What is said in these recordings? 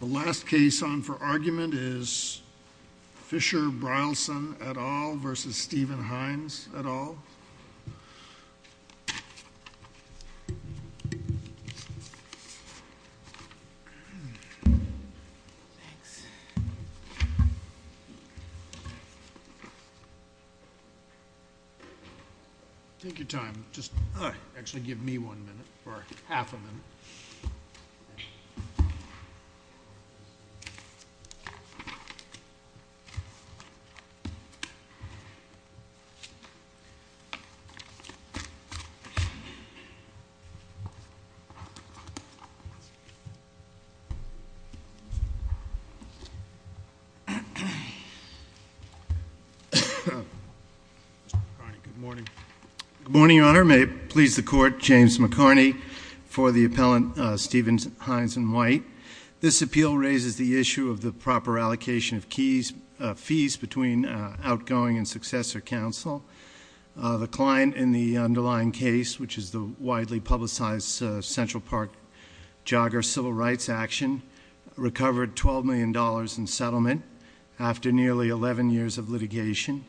The last case on for argument is Fisher Brylson et al. versus Stephen Hines et al. Take your time just actually give me one minute or half a minute. Good morning Your Honor. May it please the court, James McCarney for the appellant Stephen Hines and White. This appeal raises the issue of the proper allocation of fees between outgoing and successor counsel. The client in the underlying case which is the widely publicized Central Park jogger civil rights action recovered 12 million dollars in settlement after nearly 11 years of litigation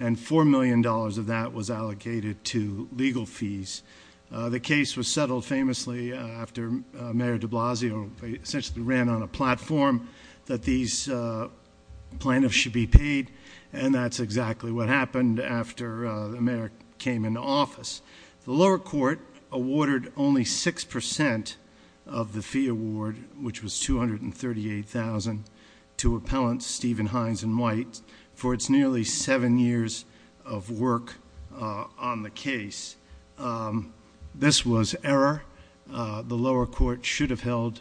and four million dollars of that was allocated to legal fees. The case was settled famously after Mayor de Blasio essentially ran on a platform that these plaintiffs should be paid and that's exactly what happened after the mayor came into office. The lower court awarded only six percent of the fee award which was 238,000 to appellants Stephen Hines and White for its nearly seven years of work on the case. This was error. The lower court should have held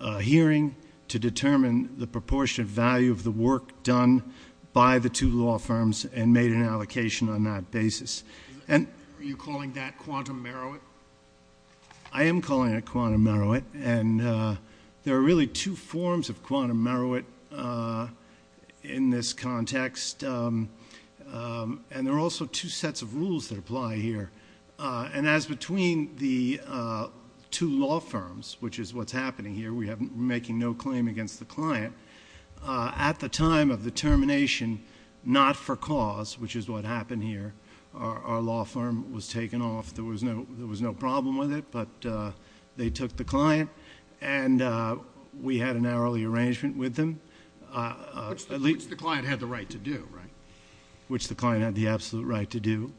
a hearing to determine the proportionate value of the work done by the two law firms and made an allocation on that basis. And are you calling that quantum merit? I am calling it quantum merit and there are really two forms of quantum merit in this context and there are also two sets of rules that apply here and as between the two law firms which is what's happening here we have making no claim against the client at the time of the termination not for cause which is what happened here our law firm was taken off there was no there was no problem with it but they took the client and we had an hourly arrangement with them which the client had the right to do right which the client had the absolute right to do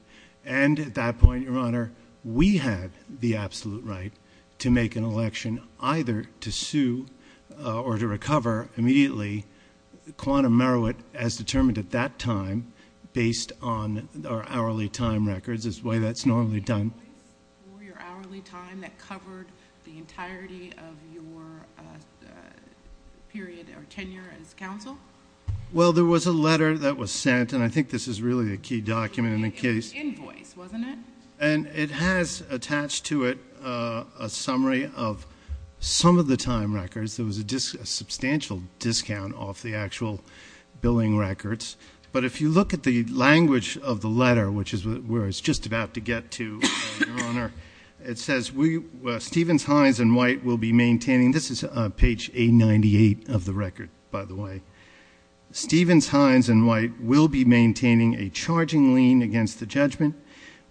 and at that point your honor we had the absolute right to make an election either to sue or to recover immediately quantum merit as determined at that time based on our time records this way that's normally done for your hourly time that covered the entirety of your period or tenure as counsel well there was a letter that was sent and i think this is really a key document in the case invoice wasn't it and it has attached to it a summary of some of the time records there was a substantial discount off the actual billing records but if you look at the language of the letter which is where it's just about to get to your honor it says we stephens hines and white will be maintaining this is page 898 of the record by the way stephens hines and white will be maintaining a charging lien against the judgment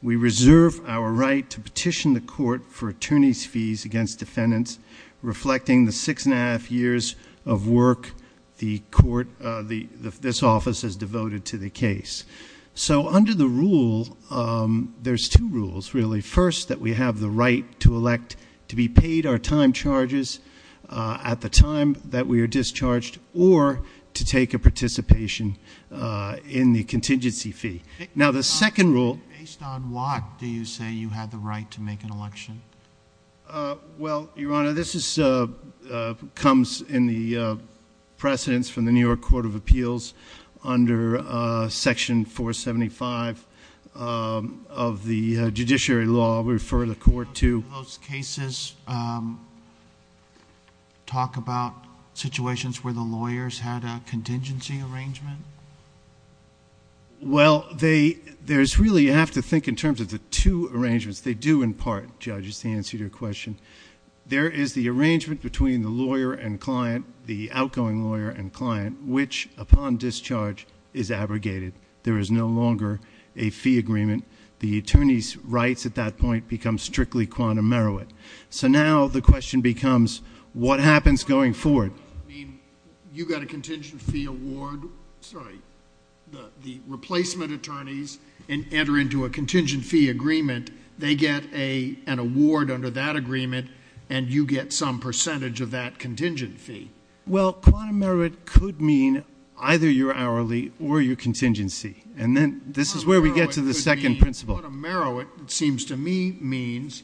we reserve our right to petition the court for attorneys fees against defendants reflecting the six and a half years of work the court uh the this office is devoted to the case so under the rule um there's two rules really first that we have the right to elect to be paid our time charges uh at the time that we are discharged or to take a participation uh in the contingency fee now the second rule based on what do you say you had the right to make an election uh well your honor this is uh comes in the precedence from the new york court of appeals under uh section 475 of the judiciary law we refer the court to those cases talk about situations where the lawyers had a contingency arrangement well they there's really you have to think in terms of the two arrangements they do in part judges to answer your question there is the arrangement between the lawyer and client the outgoing lawyer and client which upon discharge is abrogated there is no longer a fee agreement the attorney's rights at that point become strictly quantum merowit so now the question becomes what happens going forward i mean you got a contingent fee award sorry the the replacement attorneys and enter into a contingent fee agreement they get a an award under that agreement and you get some percentage of that contingent fee well quantum merowit could mean either your hourly or your contingency and then this is where we get to the second principle merowit it seems to me means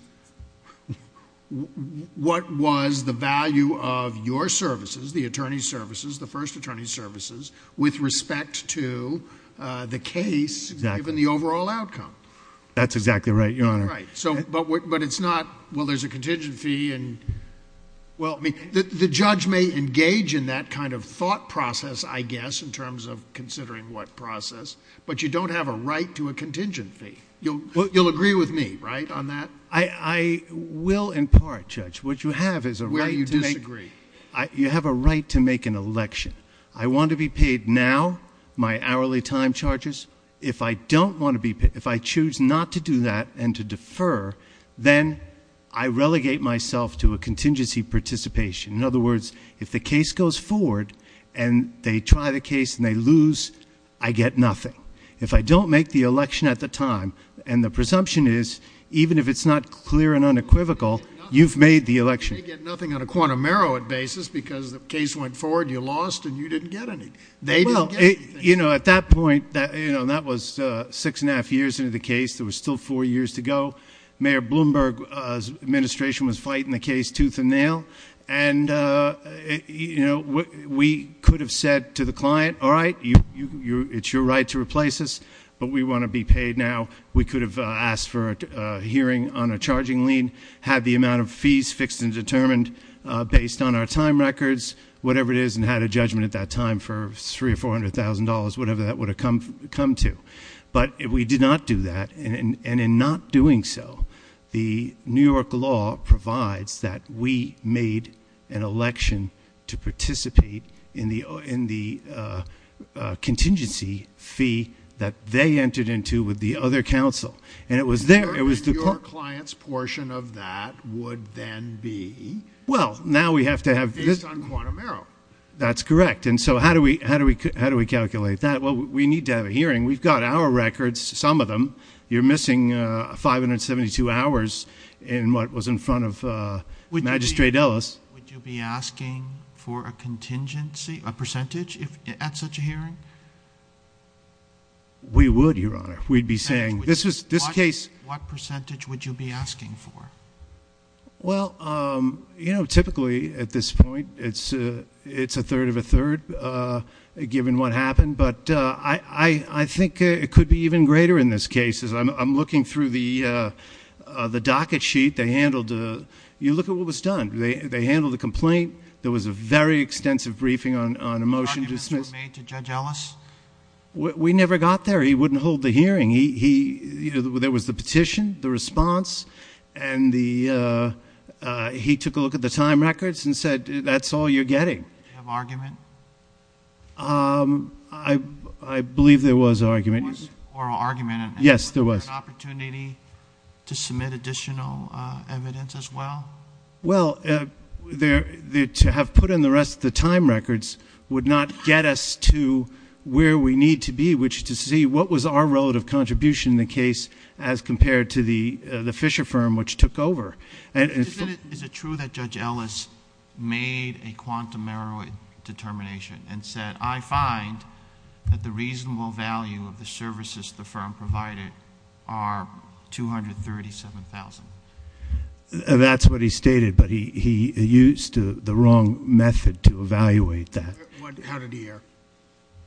what was the value of your services the attorney services the first attorney services with respect to uh the case given the overall outcome that's exactly right your honor right so but but it's not well there's a contingent fee and well i mean the judge may engage in that kind of thought process i guess in terms of considering what process but you don't have a right to a contingent fee you'll you'll agree with me right i will in part judge what you have is a way you disagree i you have a right to make an election i want to be paid now my hourly time charges if i don't want to be if i choose not to do that and to defer then i relegate myself to a contingency participation in other words if the case goes forward and they try the case and they lose i get nothing if i don't make the it's not clear and unequivocal you've made the election you get nothing on a quantum merowit basis because the case went forward you lost and you didn't get any they didn't you know at that point that you know that was uh six and a half years into the case there was still four years to go mayor bloomberg's administration was fighting the case tooth and nail and uh you know we could have said to the client all right you you it's your right to replace us but we want to be paid now we could have asked for a hearing on a charging lien had the amount of fees fixed and determined uh based on our time records whatever it is and had a judgment at that time for three or four hundred thousand dollars whatever that would have come come to but if we did not do that and and in not doing so the new york law provides that we made an election to participate in the in the uh contingency fee that they entered into with the other council and it was there it was the client's portion of that would then be well now we have to have this on quantum arrow that's correct and so how do we how do we how do we calculate that well we need to have a hearing we've got our records some of them you're missing uh 572 hours in what was in front of uh magistrate would you be asking for a contingency a percentage if at such a hearing we would your honor we'd be saying this is this case what percentage would you be asking for well um you know typically at this point it's uh it's a third of a third uh given what happened but uh i i i think it could be even greater in this case is i'm i'm looking through the uh the docket sheet they handled uh you look at what was done they they handled the complaint there was a very extensive briefing on on a motion to dismiss to judge ellis we never got there he wouldn't hold the hearing he he you know there was the petition the response and the uh uh he took a look at the time records and said that's all you're getting of argument um i i believe there was argument or argument yes there was opportunity to submit additional uh evidence as well well uh there to have put in the rest of the time records would not get us to where we need to be which to see what was our relative contribution in the case as compared to the the fisher firm which took over and is it true that judge ellis made a quantum error determination and said i find that the reasonable value of the services the firm provided are 237 000 that's what he stated but he he used the wrong method to evaluate that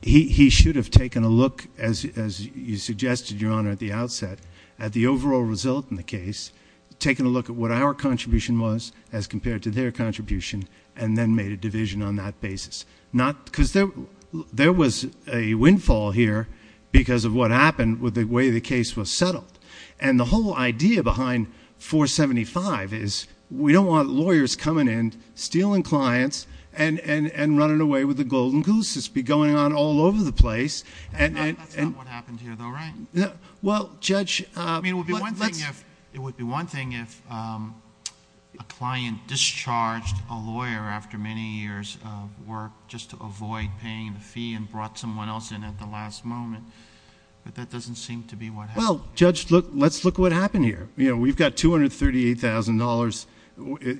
he should have taken a look as as you suggested your honor at the outset at the overall result in the case taken a look at what our contribution was as compared to their contribution and then made a division on that basis not because there there was a windfall here because of what happened with the way the case was settled and the whole idea behind 475 is we don't want lawyers coming in stealing clients and and and running away with the golden goose to be going on all over the place and that's not what happened here though right yeah well judge uh i mean it would be one thing if it would be one thing if um a client discharged a lawyer after many years of work just to avoid paying the fee and brought someone else in at the last moment but that doesn't seem to be what well judge look let's look what happened here you know we've got 238 000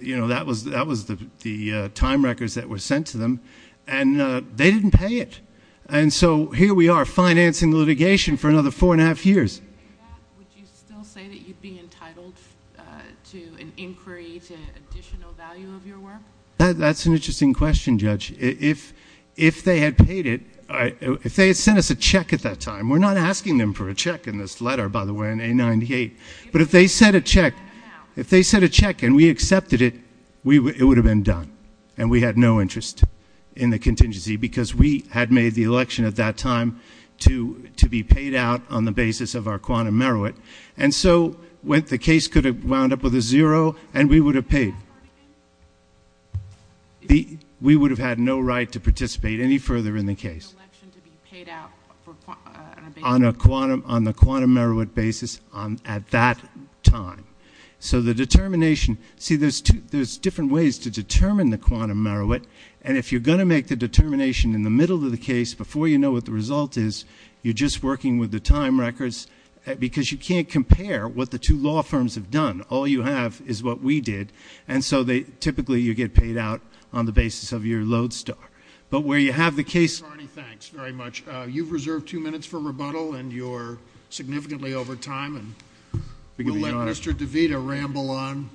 you know that was that was the the time records that were sent to them and uh they didn't pay it and so here we are financing litigation for another four and a half years would you still say that you'd be entitled uh to an i if they had sent us a check at that time we're not asking them for a check in this letter by the way in a 98 but if they said a check if they said a check and we accepted it we it would have been done and we had no interest in the contingency because we had made the election at that time to to be paid out on the basis of our quantum merit and so when the case could have wound up zero and we would have paid the we would have had no right to participate any further in the case on a quantum on the quantum merit basis on at that time so the determination see there's two there's different ways to determine the quantum merit and if you're going to make the determination in the middle of the case before you know what the result is you're just working with the time because you can't compare what the two law firms have done all you have is what we did and so they typically you get paid out on the basis of your load star but where you have the case thanks very much uh you've reserved two minutes for rebuttal and you're significantly over time and we'll let mr devita ramble on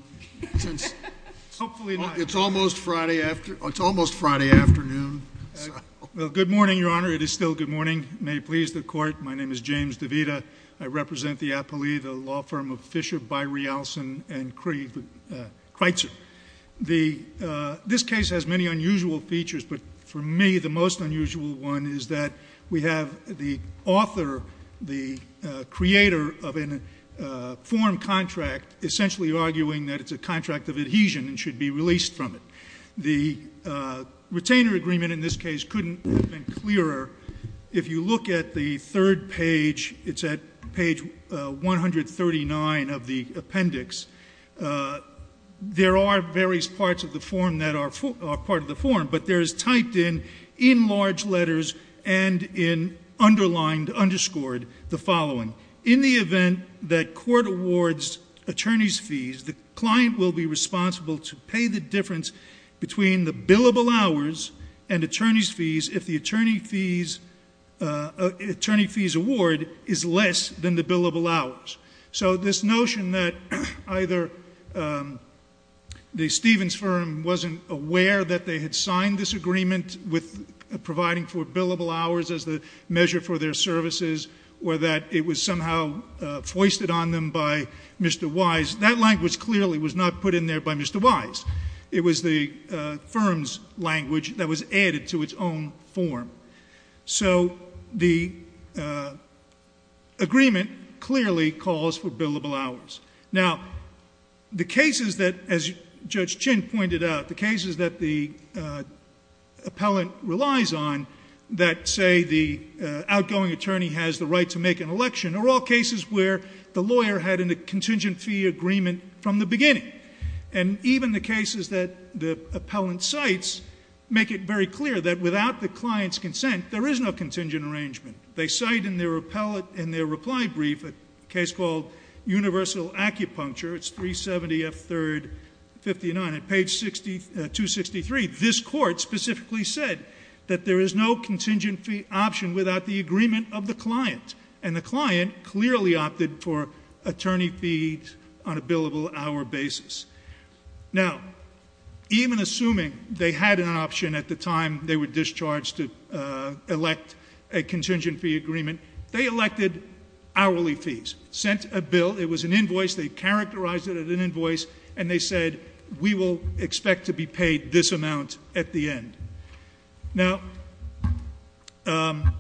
since hopefully it's almost friday after it's almost friday afternoon well good morning your honor it is still good morning may it please the court my name is james devita i represent the appellee the law firm of fisher by realson and creed kreutzer the uh this case has many unusual features but for me the most unusual one is that we have the author the uh creator of an uh form contract essentially arguing that it's a contract of adhesion and should be released from it the uh retainer agreement in this case couldn't have if you look at the third page it's at page 139 of the appendix there are various parts of the form that are part of the form but there is typed in in large letters and in underlined underscored the following in the event that court awards attorneys fees the client will be responsible to pay the difference between the billable hours and attorney's fees if the attorney fees uh attorney fees award is less than the billable hours so this notion that either um the stevens firm wasn't aware that they had signed this agreement with providing for billable hours as the measure for their services or that it was somehow uh foisted on them by mr wise that language clearly was not put in there by mr wise it was the uh firm's language that was added to its own form so the uh agreement clearly calls for billable hours now the cases that as judge chin pointed out the cases that the uh appellant relies on that say the outgoing attorney has the right to make an election are all cases where the lawyer had in the contingent fee agreement from the beginning and even the cases that the appellant cites make it very clear that without the client's consent there is no contingent arrangement they cite in their appellate in their reply brief a case called universal acupuncture it's 370 f third 59 at page 60 263 this court specifically said that there is no contingent option without the agreement of the client and the client clearly opted for attorney fees on a billable hour basis now even assuming they had an option at the time they were discharged to elect a contingent fee agreement they elected hourly fees sent a bill it was an invoice they characterized it at an invoice and they said we will expect to be paid this amount at the end now um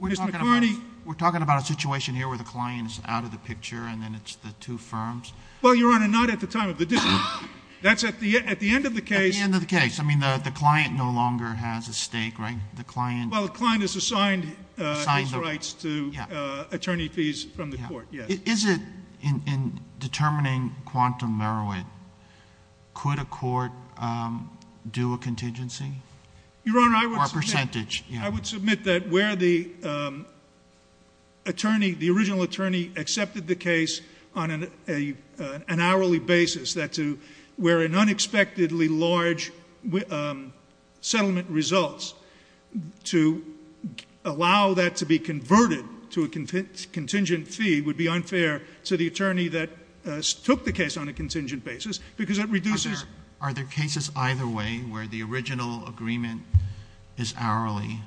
we're talking about we're talking about a situation here where the client is out of the picture and then it's the two firms well your honor not at the time of the decision that's at the at the end of the case at the end of the case i mean the the client no longer has a stake right the client well the client is assigned uh his rights to uh attorney fees from the court yes is in in determining quantum meroit could a court um do a contingency your honor percentage i would submit that where the um attorney the original attorney accepted the case on an a an hourly basis that to where an unexpectedly large um settlement results to allow that to be converted to a contingent fee would be unfair to the attorney that took the case on a contingent basis because it reduces are there cases either way where the original agreement is hourly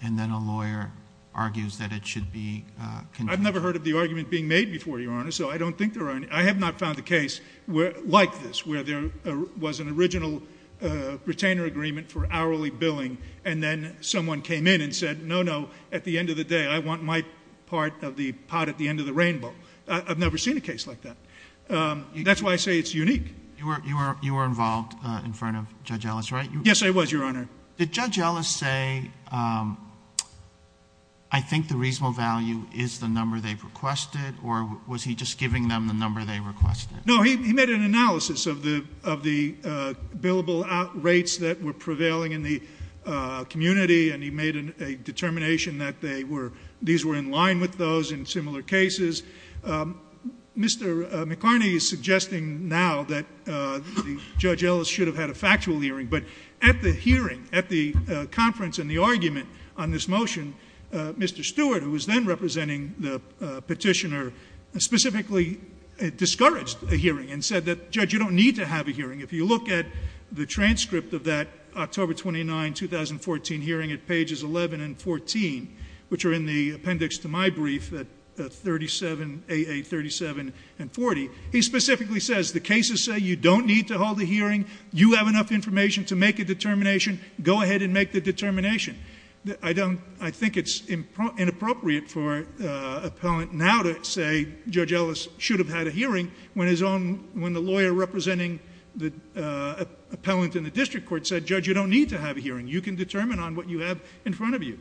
and then a lawyer argues that it should be uh i've never heard of the argument being made before your honor so i don't think there are i have not found a case where like this where there was an original uh retainer agreement for hourly billing and then someone came in and said no no at the end of the day i want my part of the pot at the end of the rainbow i've never seen a case like that um that's why i say it's unique you were you were you were involved uh in front of judge ellis right yes i was your honor did judge ellis say um i think the reasonable value is the number they've requested or was he just giving them the number they requested no he made an analysis of the of the uh billable out rates that were prevailing in the uh community and he made a determination that they were these were in line with those in similar cases um mr mccarney is suggesting now that uh judge ellis should have had a factual hearing but at the hearing at the conference and the argument on this motion uh mr stewart who was then representing the petitioner specifically discouraged a hearing and said that judge you don't need to have a hearing if you look at the transcript of that october 29 2014 hearing at pages 11 and 14 which are in the appendix to my brief at 37 a a 37 and 40 he specifically says the cases say you don't need to hold a hearing you have enough information to make a determination go ahead and make the determination i don't i think it's inappropriate for uh appellant now to say judge ellis should have had a hearing when his own when the lawyer representing the uh appellant in the district court said judge you don't need to have a hearing you can determine on what you have in front of you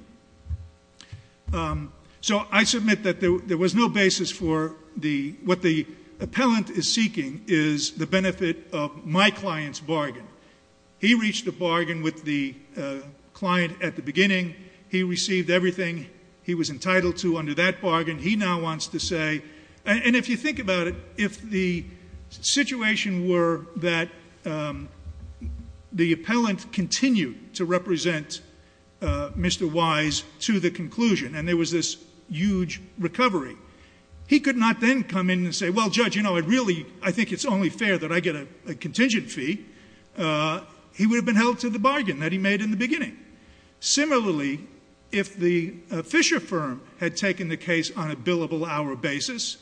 um so i submit that there was no basis for the what the appellant is seeking is the benefit of my client's bargain he reached a bargain with the uh client at the beginning he received everything he was entitled to under that bargain he now wants to say and if you think about it if the situation were that um the appellant continued to represent uh mr wise to the conclusion and there was this huge recovery he could not then come in and say well judge you know i really i think it's only fair that i get a contingent fee uh he would have been held to the bargain that he made in the on a billable hour basis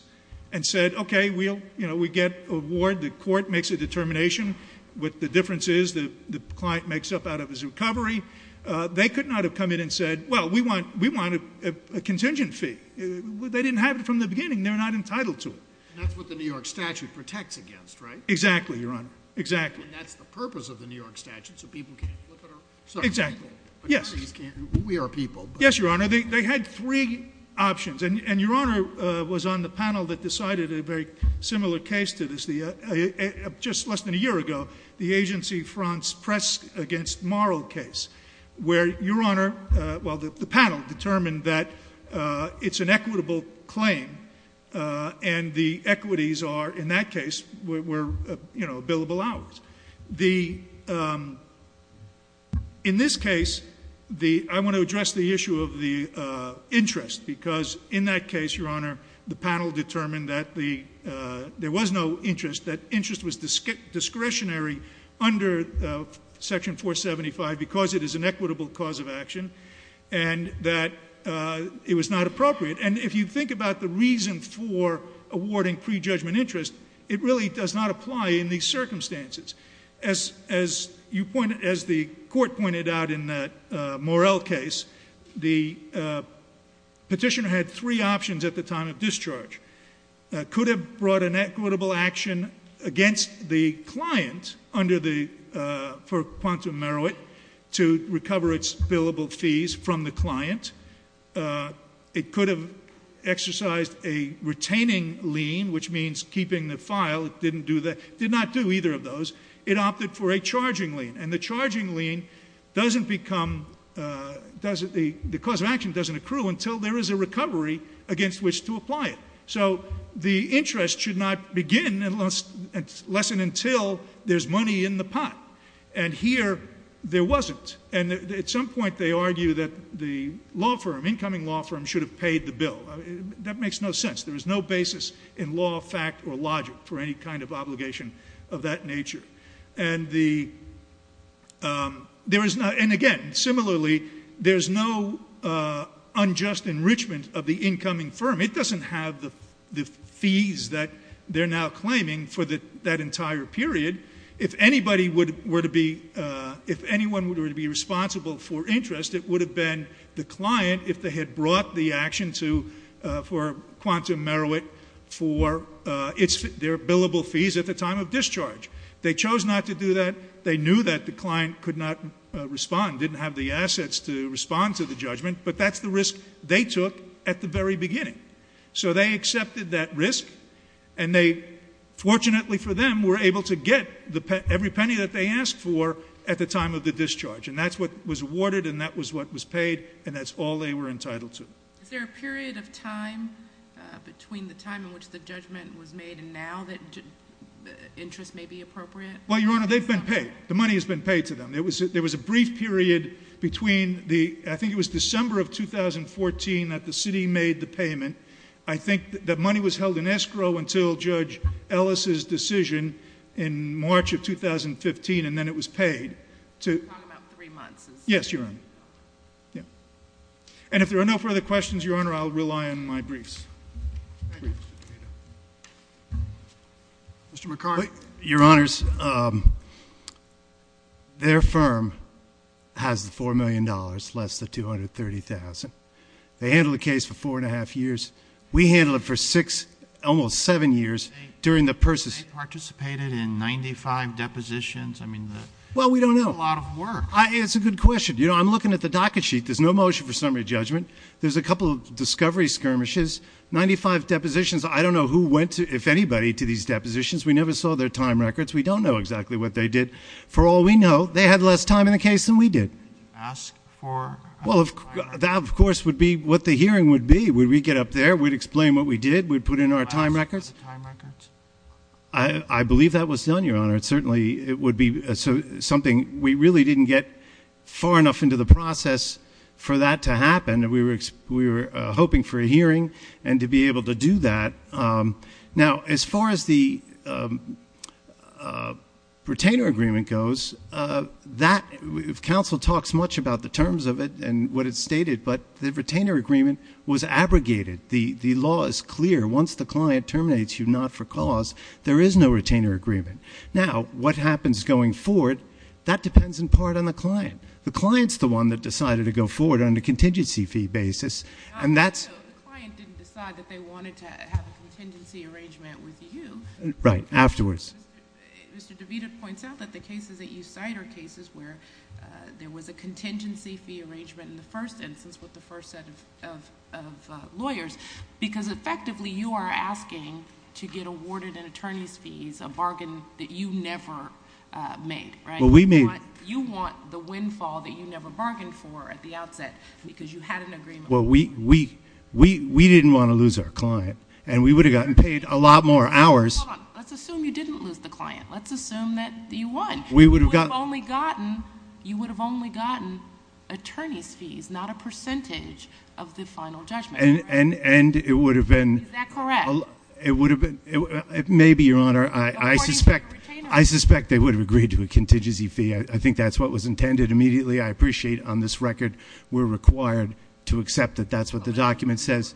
and said okay we'll you know we get a ward the court makes a determination what the difference is the the client makes up out of his recovery uh they could not have come in and said well we want we want a contingent fee they didn't have it from the beginning they're not entitled to it that's what the new york statute protects against right exactly your honor exactly that's the purpose of the new york statute so people can't flip it around exactly yes we are people yes your honor they had three options and and your honor uh was on the panel that decided a very similar case to this the uh just less than a year ago the agency fronts press against moral case where your honor uh well the panel determined that uh it's an equitable claim uh and the equities are in that case were you know billable hours the um in this case the i want to address the issue of the uh interest because in that case your honor the panel determined that the uh there was no interest that interest was discretionary under uh section 475 because it is an equitable cause of action and that uh it was not appropriate and if you think about the reason for awarding pre-judgment interest it really does not apply in these circumstances as as you pointed as the court pointed out in that uh morale case the uh petitioner had three options at the time of discharge could have brought an equitable action against the client under the uh for quantum merit to recover its billable fees from the client uh it could have exercised a retaining lien which means keeping the file it didn't do that did not do either of those it opted for a charging lien and the charging lien doesn't become uh does it the the cause of action doesn't accrue until there is a recovery against which to apply it so the interest should not begin unless and lessen until there's money in the pot and here there wasn't and at some point they argue that the law firm incoming law firm should have paid the bill that makes no sense there is no basis in law fact or logic for any kind of obligation of that nature and the um there is not and again similarly there's no uh unjust enrichment of the incoming firm it doesn't have the the fees that they're now claiming for the that entire period if anybody would were to be uh if anyone were to be responsible for interest it would have been the client if they had brought the action to uh for quantum merit for uh it's their billable fees at the time of discharge they chose not to do that they knew that the client could not respond didn't have the assets to respond to the judgment but that's the risk they took at the very beginning so they accepted that risk and they fortunately for them were able to get the every that they asked for at the time of the discharge and that's what was awarded and that was what was paid and that's all they were entitled to is there a period of time between the time in which the judgment was made and now that interest may be appropriate well your honor they've been paid the money has been paid to them there was there was a brief period between the i think it was december of 2014 that the city made the payment i think that money was held in escrow until judge ellis's and then it was paid to talk about three months yes your honor yeah and if there are no further questions your honor i'll rely on my briefs mr mccart your honors um their firm has the four million dollars less than 230 000 they handle the case for four and a half years we handle it for six almost seven years during the person participated in 95 depositions i mean well we don't know a lot of work it's a good question you know i'm looking at the docket sheet there's no motion for summary judgment there's a couple of discovery skirmishes 95 depositions i don't know who went to if anybody to these depositions we never saw their time records we don't know exactly what they did for all we know they had less time in the case than we did ask for well that of course would be what the hearing would be would we get up there we'd explain what we did we'd put in our time records time records i i believe that was done your honor it certainly it would be so something we really didn't get far enough into the process for that to happen we were we were hoping for a hearing and to be able to do that um now as far as the um uh retainer agreement goes uh that if council talks much about the terms of it and what it's stated but the retainer agreement was abrogated the the law is clear once the client terminates you not for cause there is no retainer agreement now what happens going forward that depends in part on the client the client's the one that decided to go forward on the contingency fee basis and that's the client didn't decide that they wanted to have a contingency arrangement with you right afterwards mr devita points out that the cases that you cite are cases where there was a contingency fee arrangement in the first instance with the first set of of lawyers because effectively you are asking to get awarded an attorney's fees a bargain that you never made right well we made you want the windfall that you never bargained for at the outset because you had an agreement well we we we we didn't want to lose our client and we would have gotten paid a lot more hours let's assume you didn't lose the client let's assume that you won we would have got only gotten you would have only gotten attorney's fees not a percentage of the final judgment and and and it would have been is that correct it would have been maybe your honor i i suspect i suspect they would have agreed to a contingency fee i think that's what was intended immediately i appreciate on this record we're required to accept that that's the document says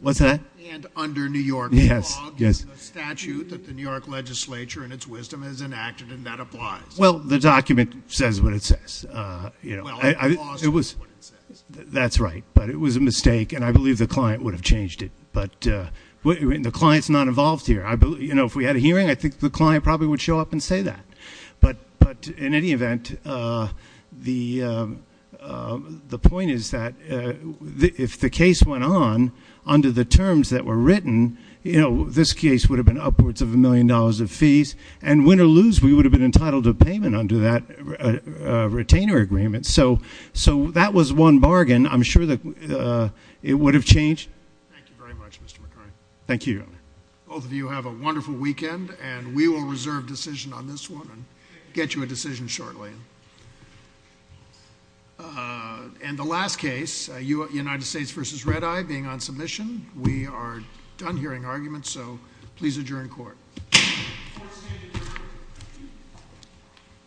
what's that and under new york yes yes a statute that the new york legislature and its wisdom has enacted and that applies well the document says what it says uh you know it was that's right but it was a mistake and i believe the client would have changed it but uh when the client's not involved here i believe you know if we had a hearing i think the client probably would show up and say that but but in any event uh the uh the point is that if the case went on under the terms that were written you know this case would have been upwards of a million dollars of fees and win or lose we would have been entitled to payment under that retainer agreement so so that was one bargain i'm sure that uh it would have changed thank you very much mr mccurry thank you both of you have a wonderful weekend and we will reserve decision on this one and get you a decision shortly and the last case united states versus red eye being on submission we are done hearing arguments so please adjourn court